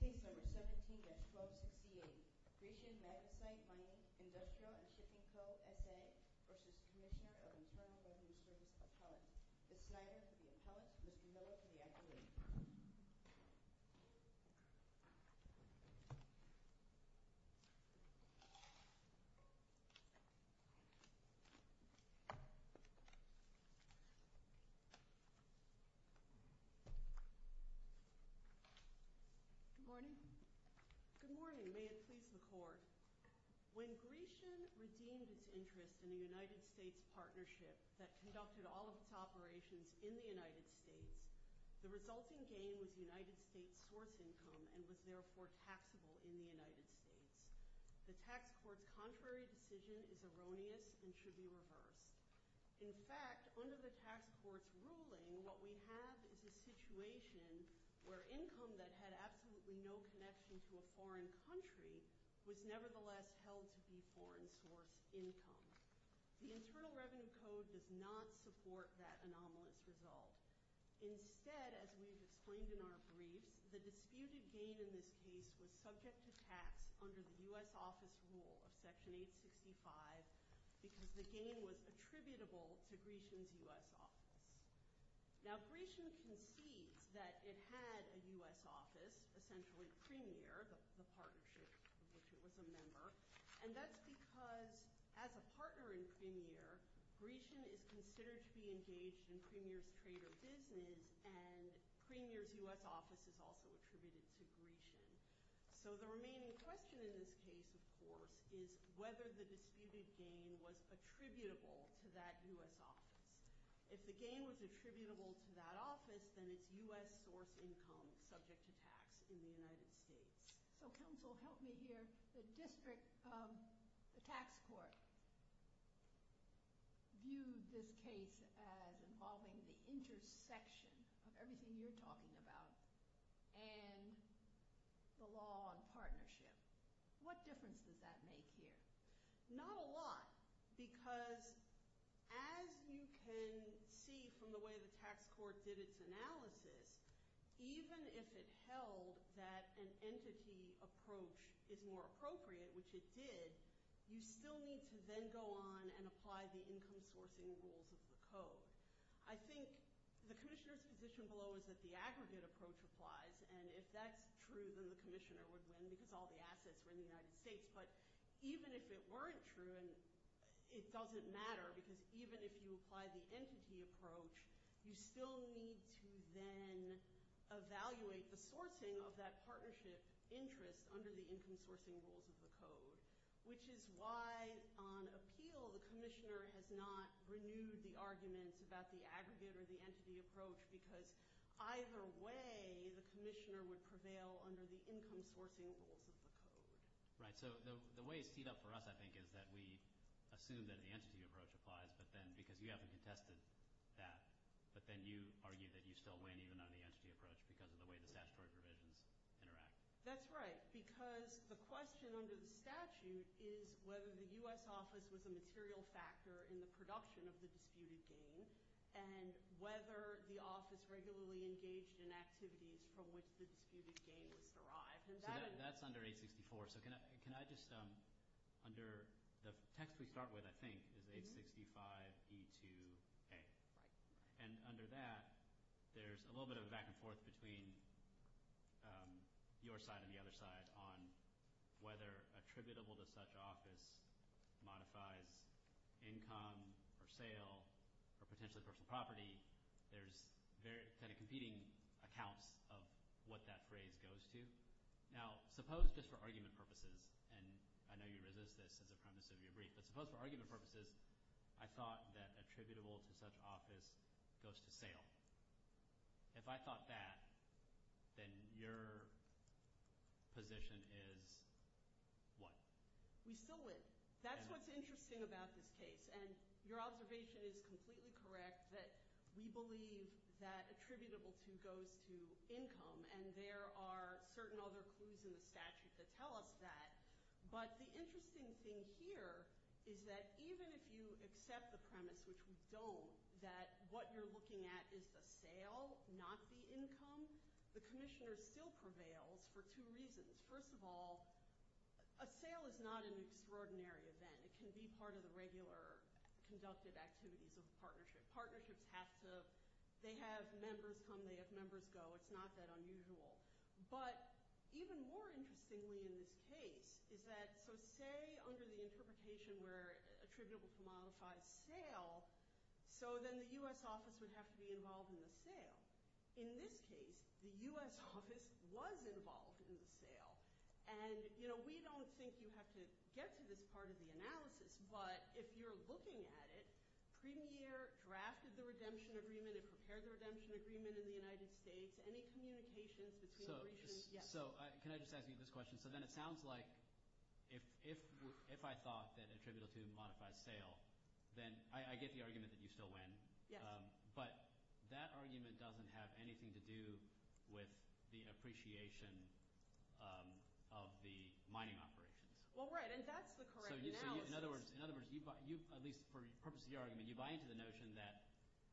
Case No. 17-1268. Grecian Magnesite Mining, Industrial and Shipping Co. S.A. v. Cmsnr. of Internal Revenue Service Appellate. Ms. Snyder for the appellate, Mr. Miller for the accolade. Good morning. Good morning. May it please the Court. When Grecian redeemed its interest in a United States partnership that conducted all of its operations in the United States, the resulting gain was United States source income and was therefore taxable in the United States. The tax court's contrary decision is erroneous and should be reversed. In fact, under the tax court's ruling, what we have is a situation where income that had absolutely no connection to a foreign country was nevertheless held to be foreign source income. The Internal Revenue Code does not support that anomalous result. Instead, as we've explained in our briefs, the disputed gain in this case was subject to tax under the U.S. Office Rule of Section 865 because the gain was attributable to Grecian's U.S. office. Now, Grecian concedes that it had a U.S. office, essentially Premier, the partnership of which it was a member, and that's because as a partner in Premier, Grecian is considered to be engaged in Premier's trade or business and Premier's U.S. office is also attributed to Grecian. So the remaining question in this case, of course, is whether the disputed gain was attributable to that U.S. office. If the gain was attributable to that office, then it's U.S. source income subject to tax in the United States. So counsel, help me here. The district, the tax court, viewed this case as involving the intersection of everything you're talking about and the law on partnership. What difference does that make here? Not a lot because as you can see from the way the tax court did its analysis, even if it held that an entity approach is more appropriate, which it did, you still need to then go on and apply the income sourcing rules of the code. I think the commissioner's position below is that the aggregate approach applies, and if that's true, then the commissioner would win because all the assets were in the United States. But even if it weren't true, it doesn't matter because even if you apply the entity approach, you still need to then evaluate the sourcing of that partnership interest under the income sourcing rules of the code, which is why on appeal the commissioner has not renewed the arguments about the aggregate or the entity approach because either way the commissioner would prevail under the income sourcing rules of the code. Right. So the way it's teed up for us, I think, is that we assume that the entity approach applies because you haven't contested that, but then you argue that you still win even on the entity approach because of the way the statutory provisions interact. That's right because the question under the statute is whether the U.S. office was a material factor in the production of the disputed gain and whether the office regularly engaged in activities from which the disputed gain was derived. So that's under 864. So can I just – under – the text we start with, I think, is 865E2A. And under that, there's a little bit of a back and forth between your side and the other side on whether attributable to such office modifies income or sale or potentially personal property. There's kind of competing accounts of what that phrase goes to. Now suppose just for argument purposes, and I know you resist this as a premise of your brief, but suppose for argument purposes I thought that attributable to such office goes to sale. If I thought that, then your position is what? We still win. That's what's interesting about this case. And your observation is completely correct that we believe that attributable to goes to income, and there are certain other clues in the statute that tell us that. But the interesting thing here is that even if you accept the premise, which we don't, that what you're looking at is the sale, not the income, the commissioner still prevails for two reasons. First of all, a sale is not an extraordinary event. It can be part of the regular conductive activities of a partnership. Partnerships have to – they have members come, they have members go. It's not that unusual. But even more interestingly in this case is that – so say under the interpretation where attributable to modifies sale, so then the U.S. office would have to be involved in the sale. In this case, the U.S. office was involved in the sale. And we don't think you have to get to this part of the analysis, but if you're looking at it, Premier drafted the redemption agreement and prepared the redemption agreement in the United States. Any communications between the regions? Yes. So can I just ask you this question? So then it sounds like if I thought that attributable to modifies sale, then I get the argument that you still win. Yes. But that argument doesn't have anything to do with the appreciation of the mining operations. Well, right, and that's the correct analysis. So in other words, at least for the purpose of your argument, you buy into the notion that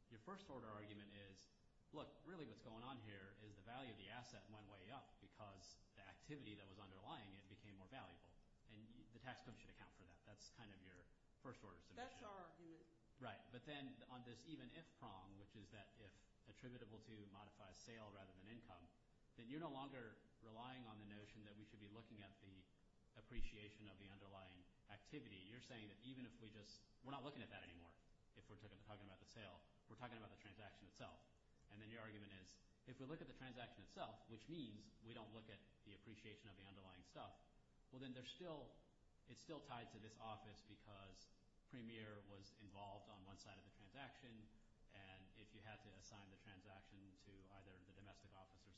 your first order argument is, look, really what's going on here is the value of the asset went way up because the activity that was underlying it became more valuable, and the tax code should account for that. That's kind of your first order submission. That's our argument. Right, but then on this even if prong, which is that if attributable to modifies sale rather than income, then you're no longer relying on the notion that we should be looking at the appreciation of the underlying activity. You're saying that even if we just – we're not looking at that anymore if we're talking about the sale. We're talking about the transaction itself. And then your argument is if we look at the transaction itself, which means we don't look at the appreciation of the underlying stuff, well, then there's still – it's still tied to this office because Premier was involved on one side of the transaction, and if you had to assign the transaction to either the domestic office or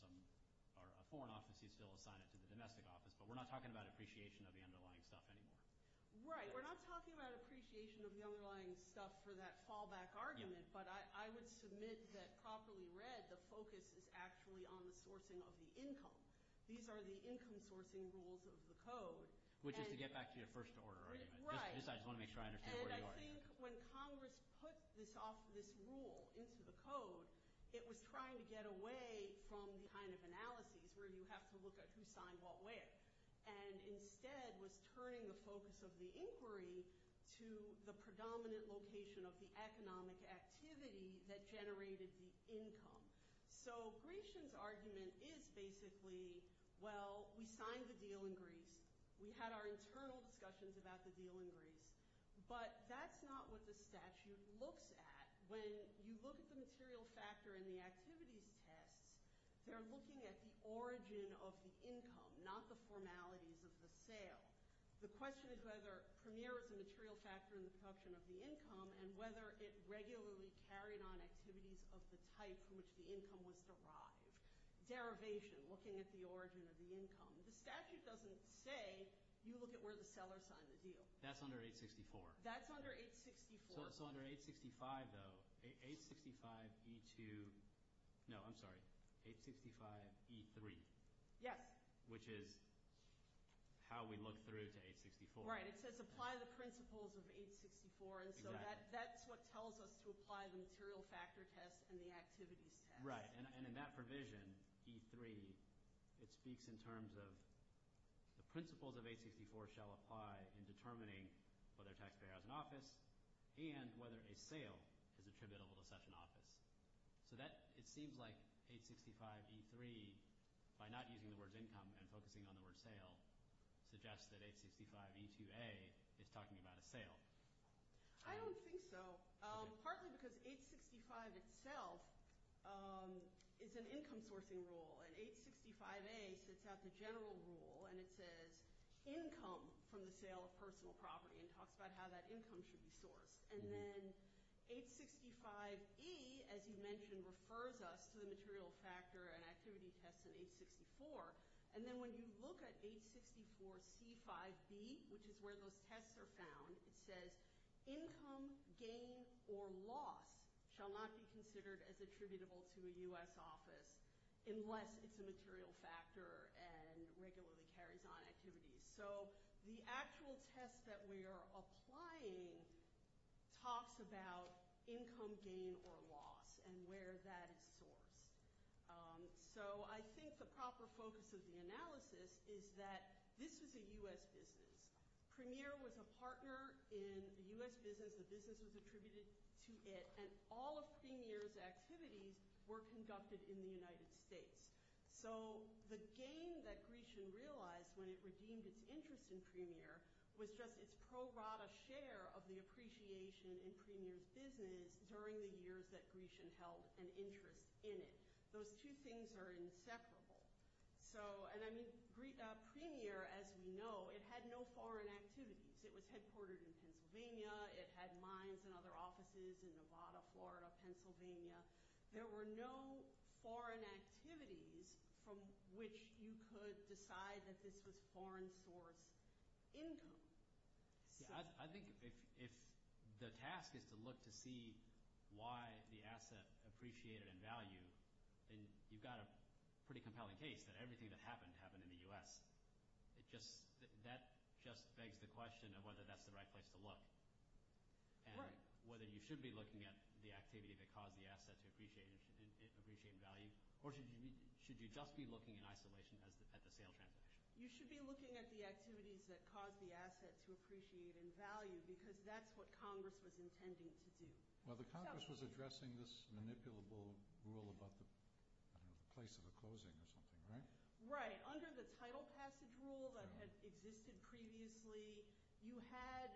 a foreign office, you still assign it to the domestic office. But we're not talking about appreciation of the underlying stuff anymore. Right. We're not talking about appreciation of the underlying stuff for that fallback argument, but I would submit that properly read, the focus is actually on the sourcing of the income. These are the income sourcing rules of the code. Which is to get back to your first order argument. Right. I just want to make sure I understand where you are. And I think when Congress put this rule into the code, it was trying to get away from the kind of analyses where you have to look at who signed what way. And instead was turning the focus of the inquiry to the predominant location of the economic activity that generated the income. So Gration's argument is basically, well, we signed the deal in Greece. We had our internal discussions about the deal in Greece. But that's not what the statute looks at. When you look at the material factor in the activities tests, they're looking at the origin of the income, not the formalities of the sale. The question is whether Premier is a material factor in the production of the income and whether it regularly carried on activities of the type from which the income was derived. Derivation, looking at the origin of the income. The statute doesn't say you look at where the seller signed the deal. That's under 864. That's under 864. So under 865, though, 865E2 – no, I'm sorry, 865E3. Yes. Which is how we look through to 864. Right. It says apply the principles of 864. Exactly. That's what tells us to apply the material factor test and the activities test. Right, and in that provision, E3, it speaks in terms of the principles of 864 shall apply in determining whether a taxpayer has an office and whether a sale is attributable to such an office. So it seems like 865E3, by not using the word income and focusing on the word sale, suggests that 865E2A is talking about a sale. I don't think so, partly because 865 itself is an income sourcing rule, and 865A sets out the general rule, and it says income from the sale of personal property and talks about how that income should be sourced. And then 865E, as you mentioned, refers us to the material factor and activity test in 864. And then when you look at 864C5B, which is where those tests are found, it says income, gain, or loss shall not be considered as attributable to a U.S. office unless it's a material factor and regularly carries on activities. So the actual test that we are applying talks about income, gain, or loss and where that is sourced. So I think the proper focus of the analysis is that this was a U.S. business. Premier was a partner in the U.S. business. The business was attributed to it. And all of Premier's activities were conducted in the United States. So the gain that Grecian realized when it redeemed its interest in Premier was just its pro rata share of the appreciation in Premier's business during the years that Grecian held an interest in it. Those two things are inseparable. So, and I mean Premier, as we know, it had no foreign activities. It was headquartered in Pennsylvania. It had mines and other offices in Nevada, Florida, Pennsylvania. There were no foreign activities from which you could decide that this was foreign source income. I think if the task is to look to see why the asset appreciated in value, then you've got a pretty compelling case that everything that happened happened in the U.S. That just begs the question of whether that's the right place to look and whether you should be looking at the activity that caused the asset to appreciate in value or should you just be looking in isolation at the sale transaction. You should be looking at the activities that caused the asset to appreciate in value because that's what Congress was intending to do. Well, the Congress was addressing this manipulable rule about the place of the closing or something, right? Right. Under the title passage rule that had existed previously, you had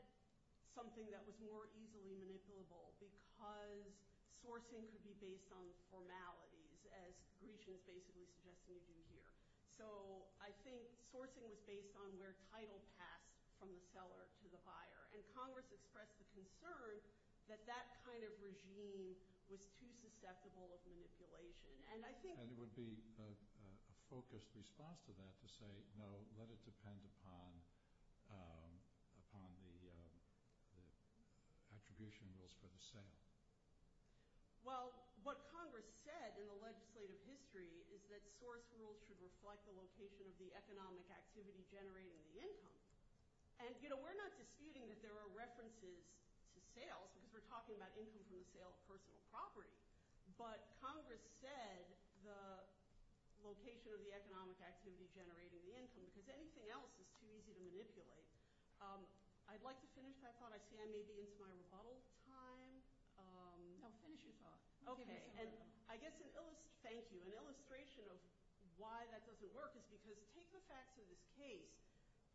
something that was more easily manipulable because sourcing could be based on formalities as Grecian is basically suggesting we do here. So, I think sourcing was based on where title passed from the seller to the buyer and Congress expressed the concern that that kind of regime was too susceptible of manipulation. And it would be a focused response to that to say, no, let it depend upon the attribution rules for the sale. Well, what Congress said in the legislative history is that source rules should reflect the location of the economic activity generating the income. And, you know, we're not disputing that there are references to sales because we're talking about income from the sale of personal property. But Congress said the location of the economic activity generating the income because anything else is too easy to manipulate. I'd like to finish my thought. I see I may be into my rebuttal time. No, finish your thought. Okay. And I guess, thank you. An illustration of why that doesn't work is because take the facts of this case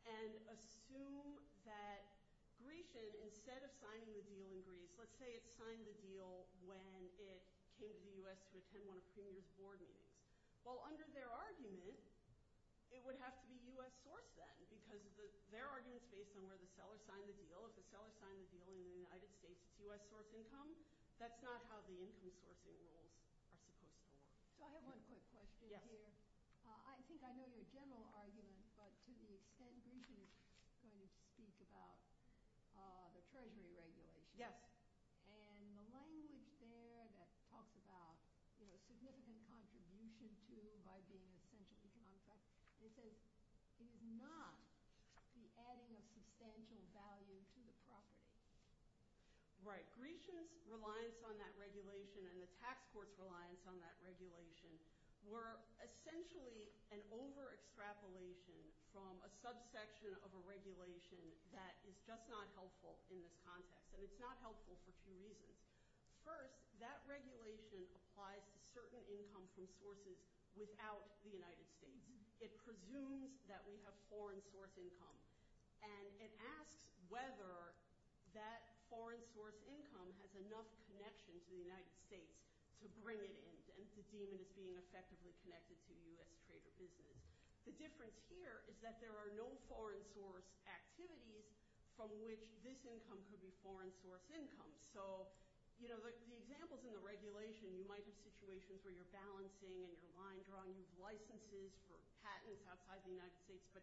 and assume that Grecian, instead of signing the deal in Greece, let's say it signed the deal when it came to the U.S. to attend one of Premier's board meetings. Well, under their argument, it would have to be U.S. source then because their argument is based on where the seller signed the deal. If the seller signed the deal in the United States, it's U.S. source income. That's not how the income sourcing rules are supposed to work. So, I have one quick question here. I think I know your general argument, but to the extent Grecian is going to speak about the Treasury regulation. Yes. And the language there that talks about, you know, significant contribution to by being essentially contract, it says it is not the adding of substantial value to the property. Right. Grecian's reliance on that regulation and the tax court's reliance on that regulation were essentially an over-extrapolation from a subsection of a regulation that is just not helpful in this context. And it's not helpful for two reasons. First, that regulation applies to certain income from sources without the United States. It presumes that we have foreign source income. And it asks whether that foreign source income has enough connection to the United States to bring it in. And to deem it as being effectively connected to U.S. trade or business. The difference here is that there are no foreign source activities from which this income could be foreign source income. So, you know, the examples in the regulation, you might have situations where you're balancing and you're line drawing. You have licenses for patents outside the United States. But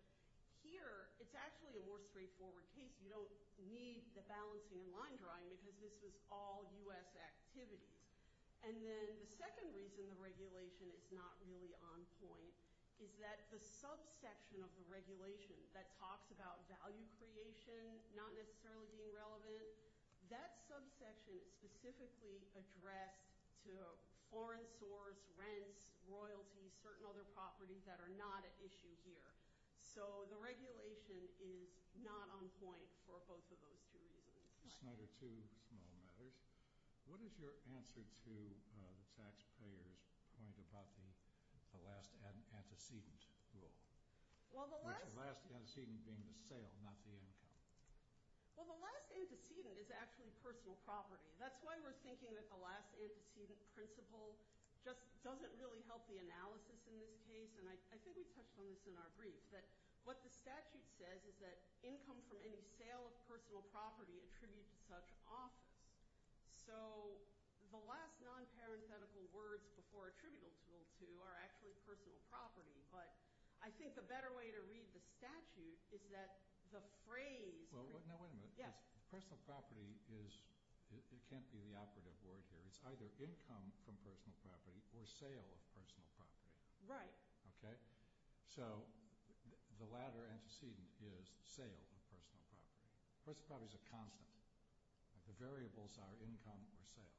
here, it's actually a more straightforward case. You don't need the balancing and line drawing because this was all U.S. activities. And then the second reason the regulation is not really on point is that the subsection of the regulation that talks about value creation not necessarily being relevant, that subsection is specifically addressed to foreign source rents, royalties, certain other properties that are not at issue here. So the regulation is not on point for both of those two reasons. Senator, two small matters. What is your answer to the taxpayer's point about the last antecedent rule? Well, the last antecedent being the sale, not the income. Well, the last antecedent is actually personal property. That's why we're thinking that the last antecedent principle just doesn't really help the analysis in this case. And I think we touched on this in our brief. But what the statute says is that income from any sale of personal property attributed to such office. So the last non-parenthetical words before attributable to are actually personal property. But I think the better way to read the statute is that the phrase – Well, wait a minute. Personal property is – it can't be the operative word here. It's either income from personal property or sale of personal property. Right. Okay? So the latter antecedent is sale of personal property. Personal property is a constant. The variables are income or sale.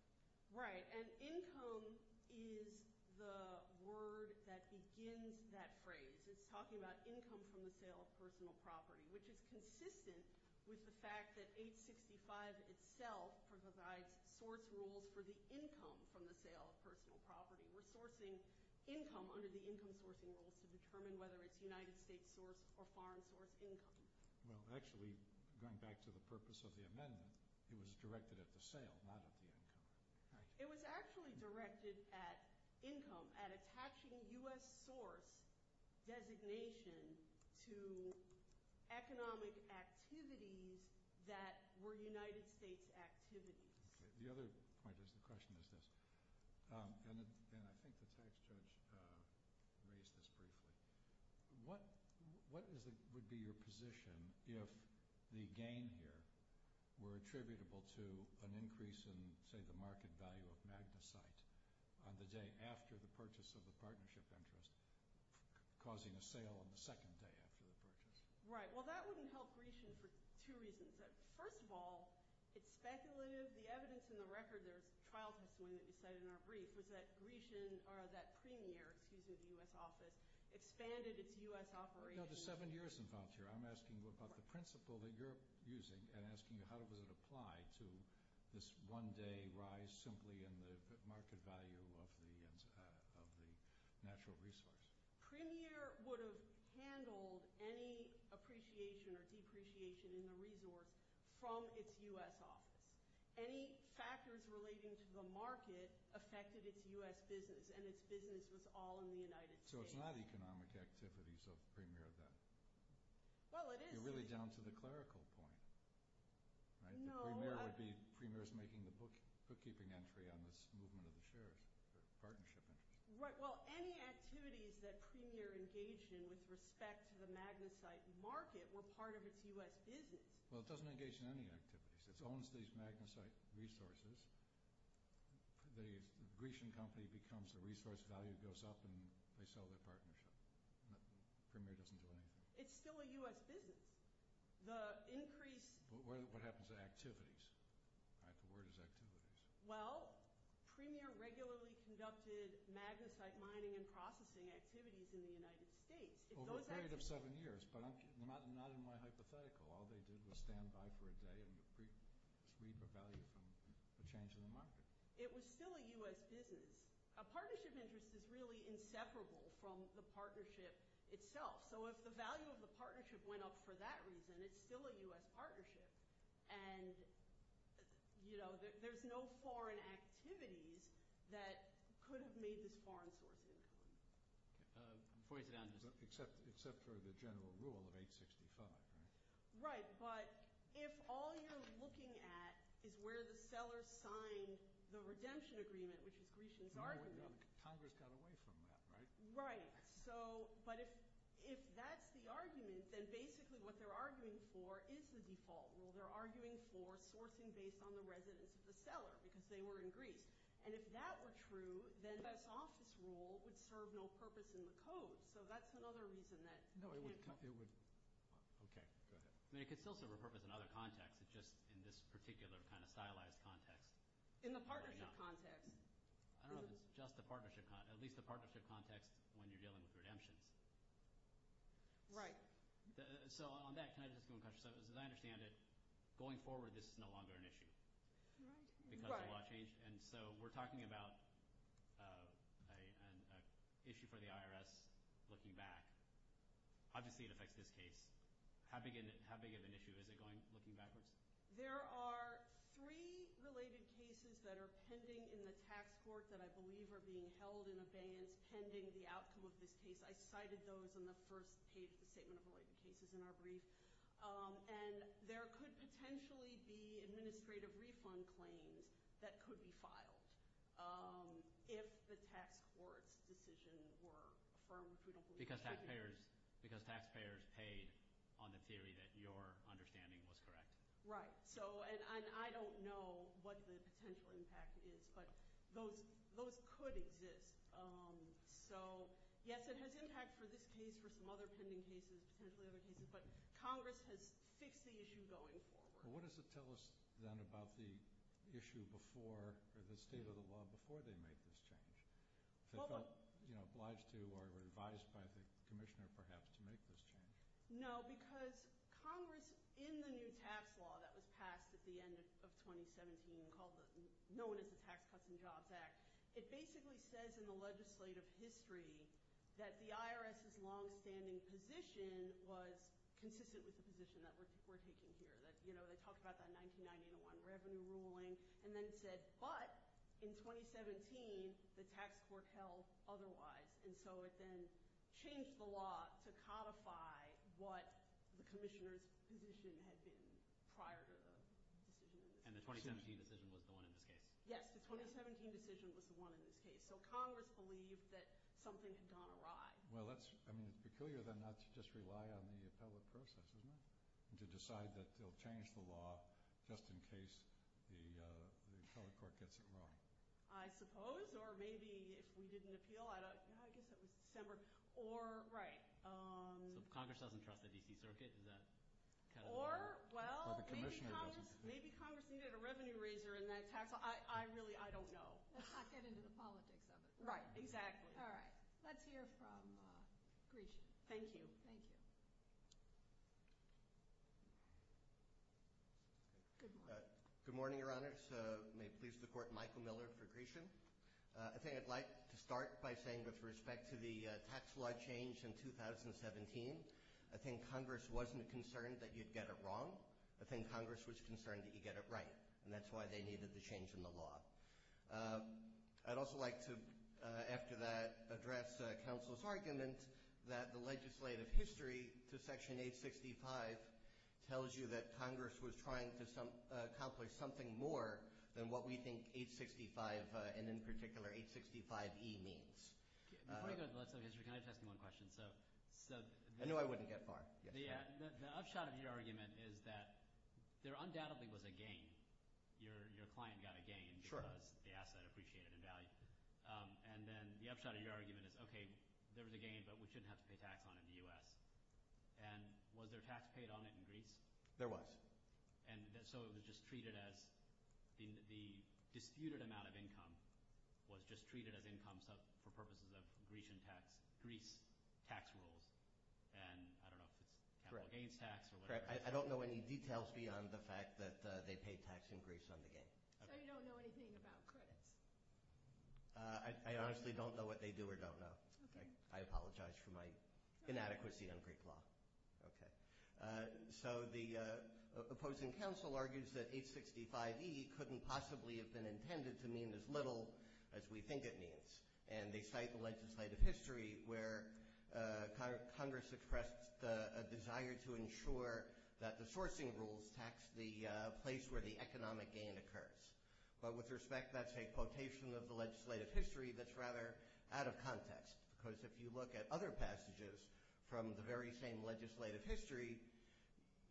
Right. And income is the word that begins that phrase. It's talking about income from the sale of personal property, which is consistent with the fact that 865 itself provides source rules for the income from the sale of personal property. We're sourcing income under the income sourcing rules to determine whether it's United States source or foreign source income. Well, actually, going back to the purpose of the amendment, it was directed at the sale, not at the income. Right. It was actually directed at income, at attaching U.S. source designation to economic activities that were United States activities. The other point is – the question is this, and I think the tax judge raised this briefly. What would be your position if the gain here were attributable to an increase in, say, the market value of MagnaCite on the day after the purchase of the partnership interest, causing a sale on the second day after the purchase? Right. Well, that wouldn't help Grecian for two reasons. First of all, it's speculative. The evidence in the record – there's a trial testimony that you cited in our brief – was that Grecian – or that Premier, excuse me, the U.S. office expanded its U.S. operations. There's seven years involved here. I'm asking you about the principle that you're using and asking you how does it apply to this one-day rise simply in the market value of the natural resource. Premier would have handled any appreciation or depreciation in the resource from its U.S. office. Any factors relating to the market affected its U.S. business, and its business was all in the United States. So it's not economic activities of Premier then? Well, it is. You're really down to the clerical point, right? No. The Premier would be – Premier's making the bookkeeping entry on this movement of the shares, the partnership interest. Right. Well, any activities that Premier engaged in with respect to the magnesite market were part of its U.S. business. Well, it doesn't engage in any activities. It owns these magnesite resources. The Grecian company becomes the resource value, goes up, and they sell their partnership. Premier doesn't do anything. It's still a U.S. business. The increase – What happens to activities? The word is activities. Well, Premier regularly conducted magnesite mining and processing activities in the United States. Over a period of seven years, but not in my hypothetical. All they did was stand by for a day and read the value from the change in the market. It was still a U.S. business. A partnership interest is really inseparable from the partnership itself. So if the value of the partnership went up for that reason, it's still a U.S. partnership. And, you know, there's no foreign activities that could have made this foreign source income. Except for the general rule of 865, right? Right, but if all you're looking at is where the seller signed the redemption agreement, which is Grecian's argument – Congress got away from that, right? Right. So – but if that's the argument, then basically what they're arguing for is the default rule. They're arguing for sourcing based on the residence of the seller because they were in Greece. And if that were true, then this office rule would serve no purpose in the code. So that's another reason that – No, it would – okay, go ahead. I mean it could still serve a purpose in other contexts. It's just in this particular kind of stylized context. In the partnership context. I don't know if it's just the partnership – at least the partnership context when you're dealing with redemptions. Right. So on that, can I just go in question? So as I understand it, going forward this is no longer an issue because the law changed. And so we're talking about an issue for the IRS looking back. Obviously, it affects this case. How big of an issue is it going – looking backwards? There are three related cases that are pending in the tax court that I believe are being held in abeyance pending the outcome of this case. I cited those on the first page of the statement of related cases in our brief. And there could potentially be administrative refund claims that could be filed if the tax court's decision were affirmed. Because taxpayers paid on the theory that your understanding was correct. Right. And I don't know what the potential impact is, but those could exist. So, yes, it has impact for this case, for some other pending cases, potentially other cases. But Congress has fixed the issue going forward. What does it tell us then about the issue before – or the state of the law before they make this change? If it felt obliged to or advised by the commissioner, perhaps, to make this change. No, because Congress, in the new tax law that was passed at the end of 2017, known as the Tax Cuts and Jobs Act, it basically says in the legislative history that the IRS's longstanding position was consistent with the position that we're taking here. They talked about that 1990-1 revenue ruling and then said, but in 2017 the tax court held otherwise. And so it then changed the law to codify what the commissioner's position had been prior to the decision. And the 2017 decision was the one in this case? Yes, the 2017 decision was the one in this case. So Congress believed that something had gone awry. Well, that's – I mean, it's peculiar then not to just rely on the appellate process, isn't it? To decide that they'll change the law just in case the appellate court gets it wrong. I suppose, or maybe if we didn't appeal, I don't – I guess that was December. Or – right. So Congress doesn't trust the D.C. Circuit? Or, well, maybe Congress needed a revenue raiser in that tax law. I really – I don't know. Let's not get into the politics of it. Right, exactly. All right. Let's hear from Grecian. Thank you. Thank you. Good morning, Your Honors. May it please the Court, Michael Miller for Grecian. I think I'd like to start by saying with respect to the tax law change in 2017, I think Congress wasn't concerned that you'd get it wrong. I think Congress was concerned that you'd get it right. And that's why they needed the change in the law. I'd also like to, after that, address counsel's argument that the legislative history to Section 865 tells you that Congress was trying to accomplish something more than what we think 865 and, in particular, 865E means. Before we go to the legislative history, can I just ask you one question? No, I wouldn't get far. The upshot of your argument is that there undoubtedly was a gain. Your client got a gain because the asset appreciated in value. And then the upshot of your argument is, okay, there was a gain, but we shouldn't have to pay tax on it in the U.S. And was there tax paid on it in Greece? There was. And so it was just treated as – the disputed amount of income was just treated as income for purposes of Grecian tax – Greece tax rules. And I don't know if it's capital gains tax or whatever. I don't know any details beyond the fact that they paid tax increase on the gain. So you don't know anything about credits? I honestly don't know what they do or don't know. I apologize for my inadequacy on Greek law. So the opposing counsel argues that 865E couldn't possibly have been intended to mean as little as we think it means. And they cite the legislative history where Congress expressed a desire to ensure that the sourcing rules tax the place where the economic gain occurs. But with respect, that's a quotation of the legislative history that's rather out of context. Because if you look at other passages from the very same legislative history,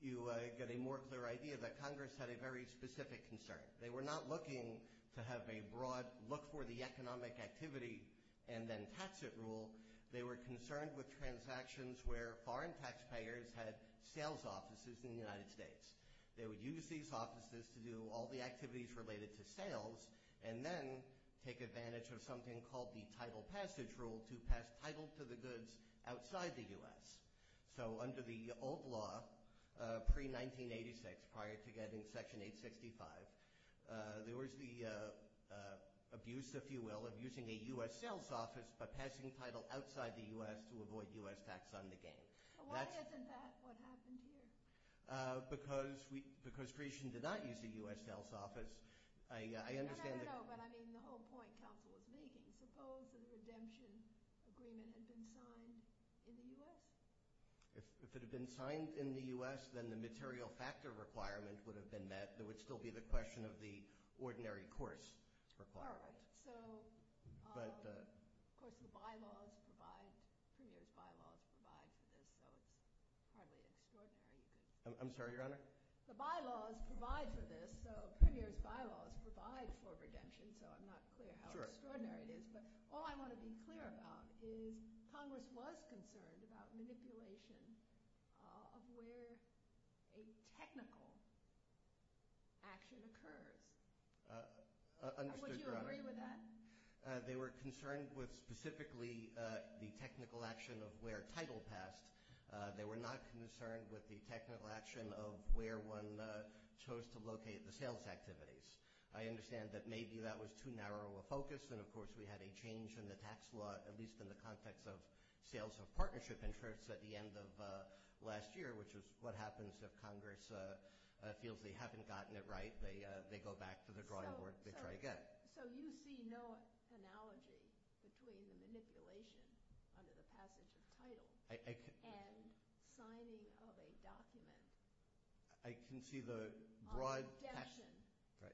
you get a more clear idea that Congress had a very specific concern. They were not looking to have a broad look for the economic activity and then tax it rule. They were concerned with transactions where foreign taxpayers had sales offices in the United States. They would use these offices to do all the activities related to sales and then take advantage of something called the title passage rule to pass title to the goods outside the U.S. So under the old law, pre-1986, prior to getting Section 865, there was the abuse, if you will, of using a U.S. sales office by passing title outside the U.S. to avoid U.S. tax on the gain. Why isn't that what happened here? Because creation did not use a U.S. sales office. No, no, no, but I mean the whole point counsel was making. Suppose a redemption agreement had been signed in the U.S.? If it had been signed in the U.S., then the material factor requirement would have been met. There would still be the question of the ordinary course requirement. All right. So of course the bylaws provide, Premier's bylaws provide for this, so it's hardly extraordinary. I'm sorry, Your Honor? The bylaws provide for this, so Premier's bylaws provide for redemption, so I'm not clear how extraordinary it is. But all I want to be clear about is Congress was concerned about manipulation of where a technical action occurs. Understood, Your Honor. Would you agree with that? They were concerned with specifically the technical action of where title passed. They were not concerned with the technical action of where one chose to locate the sales activities. I understand that maybe that was too narrow a focus, and, of course, we had a change in the tax law, at least in the context of sales of partnership interests at the end of last year, which is what happens if Congress feels they haven't gotten it right. They go back to the drawing board. They try again. So you see no analogy between the manipulation under the passage of title and signing of a document on redemption.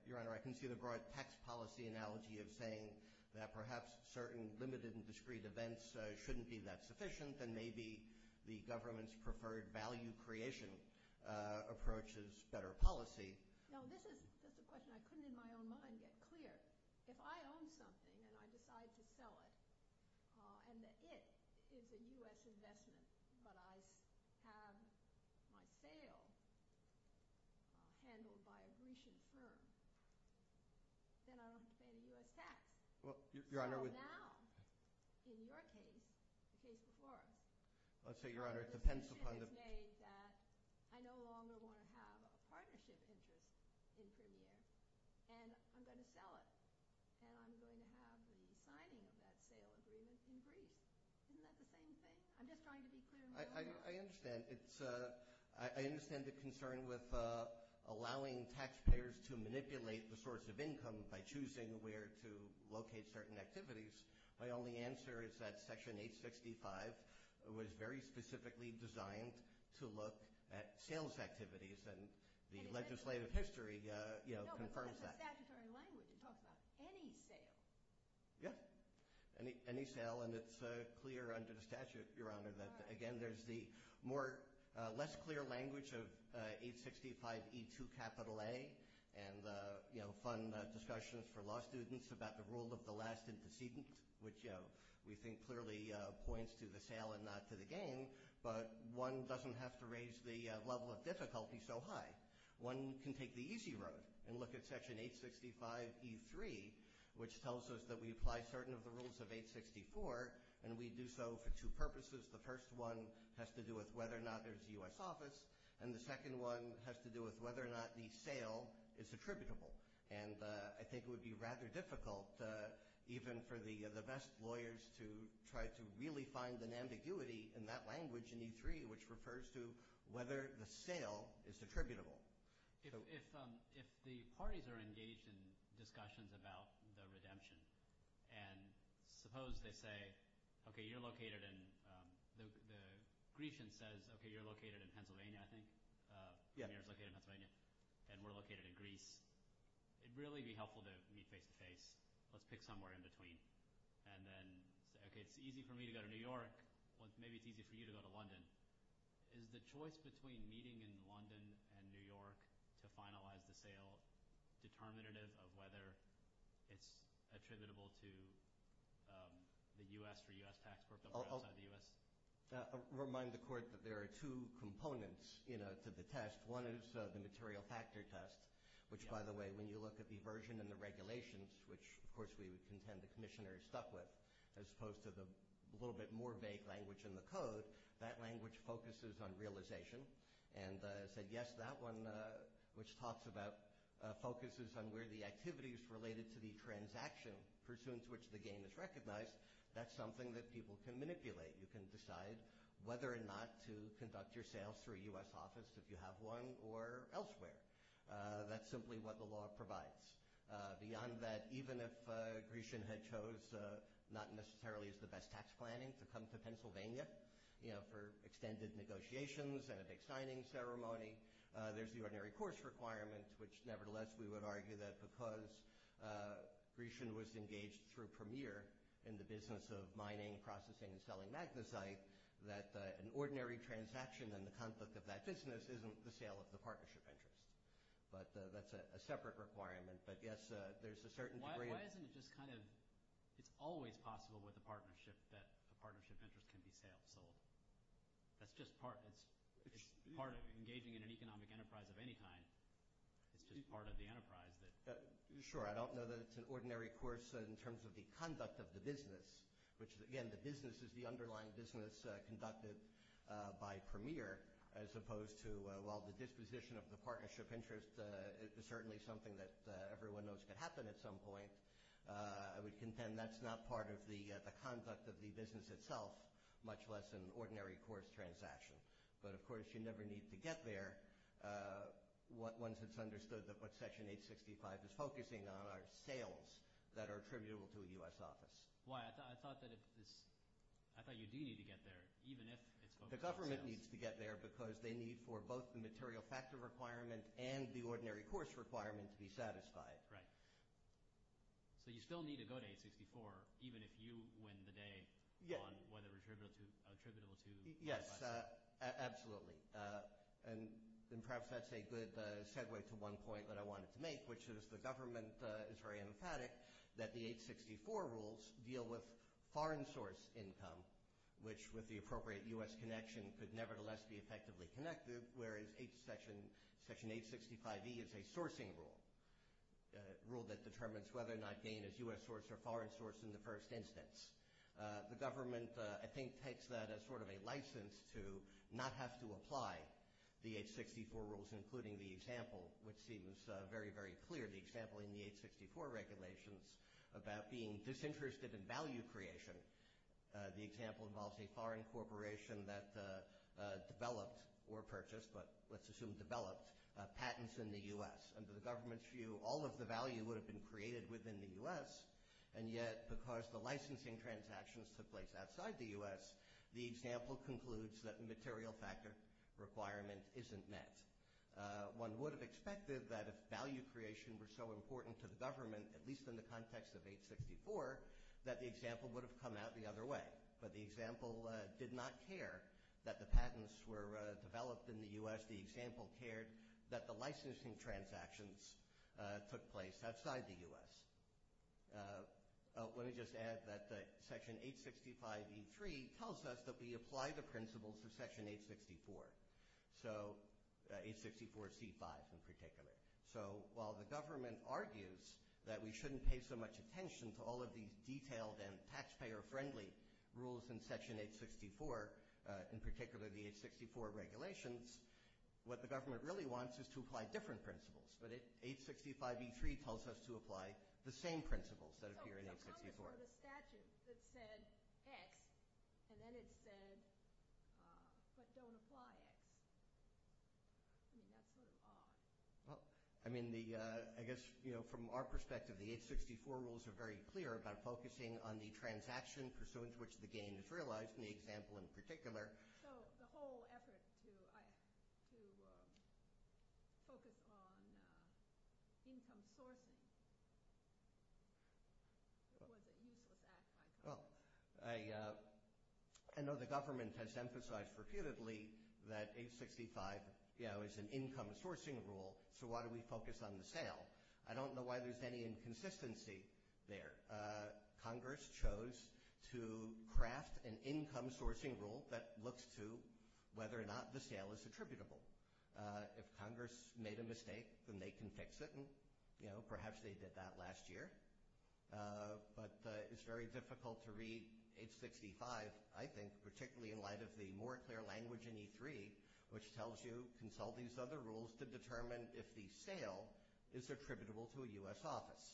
Your Honor, I can see the broad tax policy analogy of saying that perhaps certain limited and discrete events shouldn't be that sufficient, and maybe the government's preferred value creation approach is better policy. No, this is a question I couldn't in my own mind get clear. If I own something and I decide to sell it, and that it is a U.S. investment, but I have my sale handled by a Grecian firm, then I don't have to pay the U.S. tax. So now, in your case, the case before us, the decision is made that I no longer want to have a partnership interest. And I'm going to sell it, and I'm going to have the signing of that sale agreement in Greece. Isn't that the same thing? I'm just trying to be clear. I understand. I understand the concern with allowing taxpayers to manipulate the source of income by choosing where to locate certain activities. My only answer is that Section 865 was very specifically designed to look at sales activities, and the legislative history confirms that. No, but that's a statutory language you're talking about, any sale. Yes, any sale, and it's clear under the statute, Your Honor, that, again, there's the less clear language of 865E2A and fun discussions for law students about the rule of the last indecedent, which we think clearly points to the sale and not to the gain. But one doesn't have to raise the level of difficulty so high. One can take the easy road and look at Section 865E3, which tells us that we apply certain of the rules of 864, and we do so for two purposes. The first one has to do with whether or not there's a U.S. office, and the second one has to do with whether or not the sale is attributable. And I think it would be rather difficult even for the best lawyers to try to really find an ambiguity in that language in E3, which refers to whether the sale is attributable. If the parties are engaged in discussions about the redemption and suppose they say, okay, you're located in – the Grecian says, okay, you're located in Pennsylvania, I think. Yeah. Pennsylvania is located in Pennsylvania, and we're located in Greece. It would really be helpful to meet face-to-face. Let's pick somewhere in between. And then say, okay, it's easy for me to go to New York. Maybe it's easy for you to go to London. Is the choice between meeting in London and New York to finalize the sale determinative of whether it's attributable to the U.S. for U.S. tax purposes outside the U.S.? Remind the court that there are two components to the test. One is the material factor test, which, by the way, when you look at the version and the regulations, which, of course, we would contend the commissioner is stuck with, as opposed to the little bit more vague language in the code, that language focuses on realization and said, yes, that one, which talks about – focuses on where the activities related to the transaction pursuant to which the gain is recognized, that's something that people can manipulate. You can decide whether or not to conduct your sales through a U.S. office if you have one or elsewhere. That's simply what the law provides. Beyond that, even if Grecian had chose not necessarily as the best tax planning to come to Pennsylvania, you know, for extended negotiations and a big signing ceremony, there's the ordinary course requirement, which, nevertheless, we would argue that because Grecian was engaged through Premier in the business of mining, processing, and selling magnesite, that an ordinary transaction in the conflict of that business isn't the sale of the partnership interest. But that's a separate requirement. But, yes, there's a certain degree of – Why isn't it just kind of – it's always possible with a partnership that a partnership interest can be sailed. That's just part – it's part of engaging in an economic enterprise of any kind. It's just part of the enterprise that – Sure. I don't know that it's an ordinary course in terms of the conduct of the business, which, again, the business is the underlying business conducted by Premier as opposed to, well, the disposition of the partnership interest is certainly something that everyone knows could happen at some point. I would contend that's not part of the conduct of the business itself, much less an ordinary course transaction. But, of course, you never need to get there once it's understood that what Section 865 is focusing on are sales that are attributable to a U.S. office. Why? I thought that if this – I thought you do need to get there even if it's focusing on sales. The government needs to get there because they need for both the material factor requirement and the ordinary course requirement to be satisfied. Right. So you still need to go to 864 even if you win the day on whether it's attributable to a U.S. office. Yes, absolutely, and perhaps that's a good segue to one point that I wanted to make, which is the government is very emphatic that the 864 rules deal with foreign source income, which with the appropriate U.S. connection could nevertheless be effectively connected, whereas Section 865E is a sourcing rule, a rule that determines whether or not gain is U.S. source or foreign source in the first instance. The government, I think, takes that as sort of a license to not have to apply the 864 rules, including the example, which seems very, very clear, the example in the 864 regulations about being disinterested in value creation. The example involves a foreign corporation that developed or purchased, but let's assume developed, patents in the U.S. Under the government's view, all of the value would have been created within the U.S., and yet because the licensing transactions took place outside the U.S., the example concludes that the material factor requirement isn't met. One would have expected that if value creation were so important to the government, at least in the context of 864, that the example would have come out the other way. But the example did not care that the patents were developed in the U.S. The example cared that the licensing transactions took place outside the U.S. Let me just add that Section 865E3 tells us that we apply the principles of Section 864, so 864C5 in particular. So while the government argues that we shouldn't pay so much attention to all of these detailed and taxpayer-friendly rules in Section 864, in particular the 864 regulations, what the government really wants is to apply different principles. But 865E3 tells us to apply the same principles that appear in 864. The statute that said X, and then it said, but don't apply X. I mean, that's sort of odd. I mean, I guess from our perspective, the 864 rules are very clear about focusing on the transaction pursuant to which the gain is realized, and the example in particular. So the whole effort to focus on income sourcing was a useless act by Congress. Well, I know the government has emphasized repeatedly that 865 is an income sourcing rule, so why do we focus on the sale? I don't know why there's any inconsistency there. Congress chose to craft an income sourcing rule that looks to whether or not the sale is attributable. If Congress made a mistake, then they can fix it, and, you know, perhaps they did that last year. But it's very difficult to read 865, I think, particularly in light of the more clear language in E3, which tells you consult these other rules to determine if the sale is attributable to a U.S. office.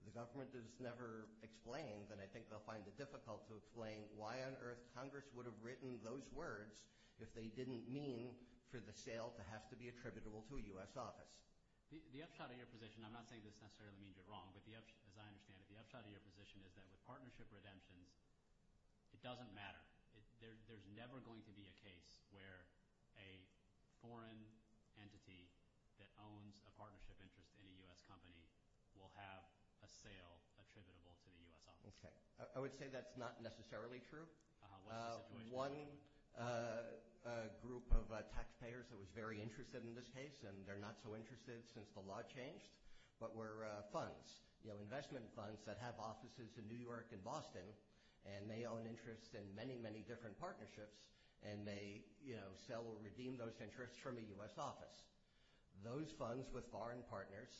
If the government has never explained, then I think they'll find it difficult to explain why on earth Congress would have written those words if they didn't mean for the sale to have to be attributable to a U.S. office. The upshot of your position, and I'm not saying this necessarily means you're wrong, but as I understand it, the upshot of your position is that with partnership redemptions, it doesn't matter. There's never going to be a case where a foreign entity that owns a partnership interest in a U.S. company will have a sale attributable to the U.S. office. Okay. I would say that's not necessarily true. One group of taxpayers that was very interested in this case, and they're not so interested since the law changed, but were funds, investment funds that have offices in New York and Boston, and they own interest in many, many different partnerships, and they sell or redeem those interests from a U.S. office. Those funds with foreign partners,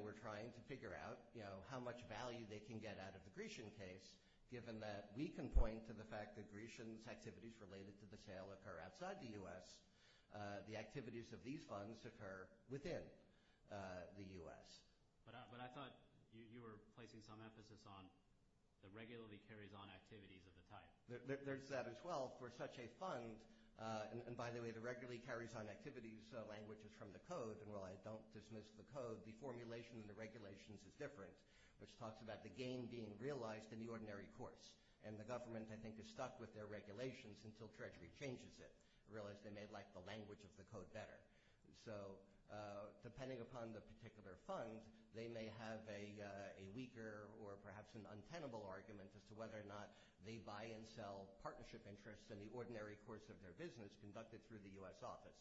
we're trying to figure out how much value they can get out of the Grecian case, given that we can point to the fact that Grecian's activities related to the sale occur outside the U.S. The activities of these funds occur within the U.S. But I thought you were placing some emphasis on the regularly carries-on activities of the type. There's that as well. For such a fund, and by the way, the regularly carries-on activities language is from the Code, and while I don't dismiss the Code, the formulation in the regulations is different, which talks about the gain being realized in the ordinary course, and the government, I think, is stuck with their regulations until Treasury changes it. I realize they may like the language of the Code better. So depending upon the particular fund, they may have a weaker or perhaps an untenable argument as to whether or not they buy and sell partnership interests in the ordinary course of their business conducted through the U.S. office.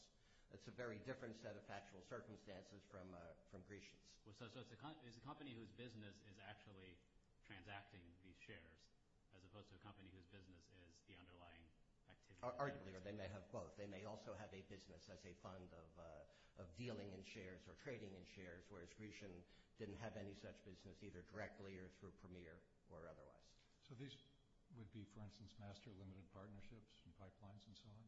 It's a very different set of factual circumstances from Grecian's. So it's a company whose business is actually transacting these shares, as opposed to a company whose business is the underlying activity. Arguably, or they may have both. They may also have a business as a fund of dealing in shares or trading in shares, whereas Grecian didn't have any such business either directly or through Premier or otherwise. So this would be, for instance, master limited partnerships and pipelines and so on?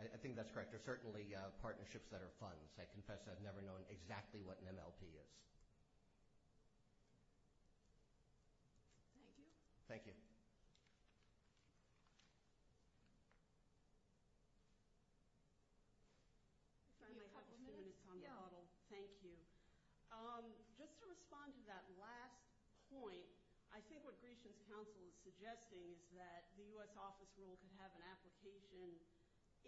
I think that's correct. They're certainly partnerships that are funds. I confess I've never known exactly what an MLP is. Thank you. Just to respond to that last point, I think what Grecian's counsel is suggesting is that the U.S. office rule could have an application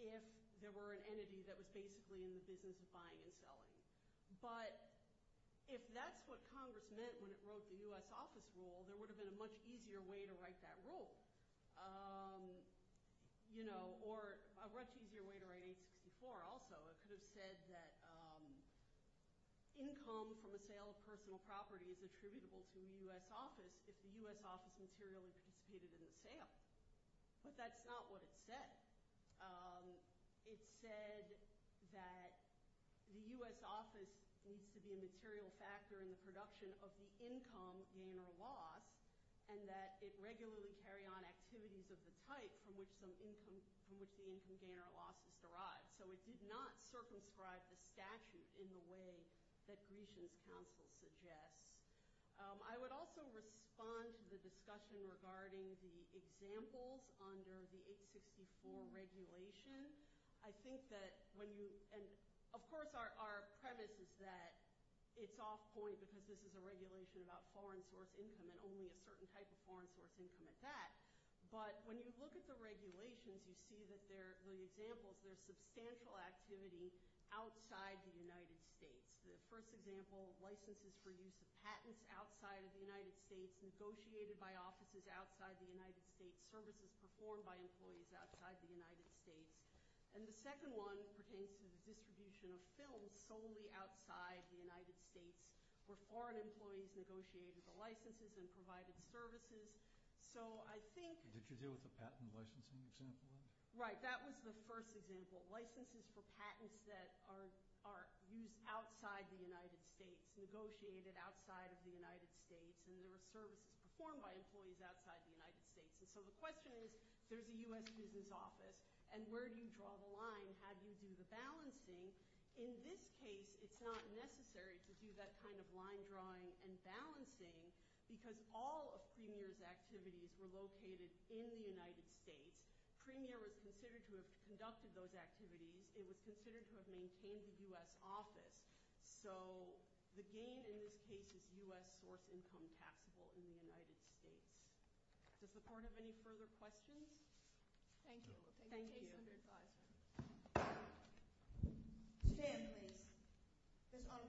if there were an entity that was basically in the business of buying and selling. But if that's what Congress meant when it wrote the U.S. office rule, there would have been a much easier way to write that rule, or a much easier way to write 864 also. It could have said that income from a sale of personal property is attributable to the U.S. office if the U.S. office materially participated in the sale. But that's not what it said. It said that the U.S. office needs to be a material factor in the production of the income gain or loss and that it regularly carry on activities of the type from which the income gain or loss is derived. So it did not circumscribe the statute in the way that Grecian's counsel suggests. I would also respond to the discussion regarding the examples under the 864 regulation. I think that when you – and, of course, our premise is that it's off point because this is a regulation about foreign source income and only a certain type of foreign source income at that. But when you look at the regulations, you see that there – the examples, there's substantial activity outside the United States. The first example, licenses for use of patents outside of the United States negotiated by offices outside the United States, services performed by employees outside the United States. And the second one pertains to the distribution of films solely outside the United States where foreign employees negotiated the licenses and provided services. So I think – Did you deal with the patent licensing example? Right. That was the first example. Licenses for patents that are used outside the United States, negotiated outside of the United States, and there were services performed by employees outside the United States. And so the question is, there's a U.S. business office, and where do you draw the line? How do you do the balancing? In this case, it's not necessary to do that kind of line drawing and balancing because all of Premier's activities were located in the United States. Premier was considered to have conducted those activities. It was considered to have maintained the U.S. office. So the gain in this case is U.S. source income taxable in the United States. Does the court have any further questions? Thank you. Thank you. Case under advisory. Stand, please.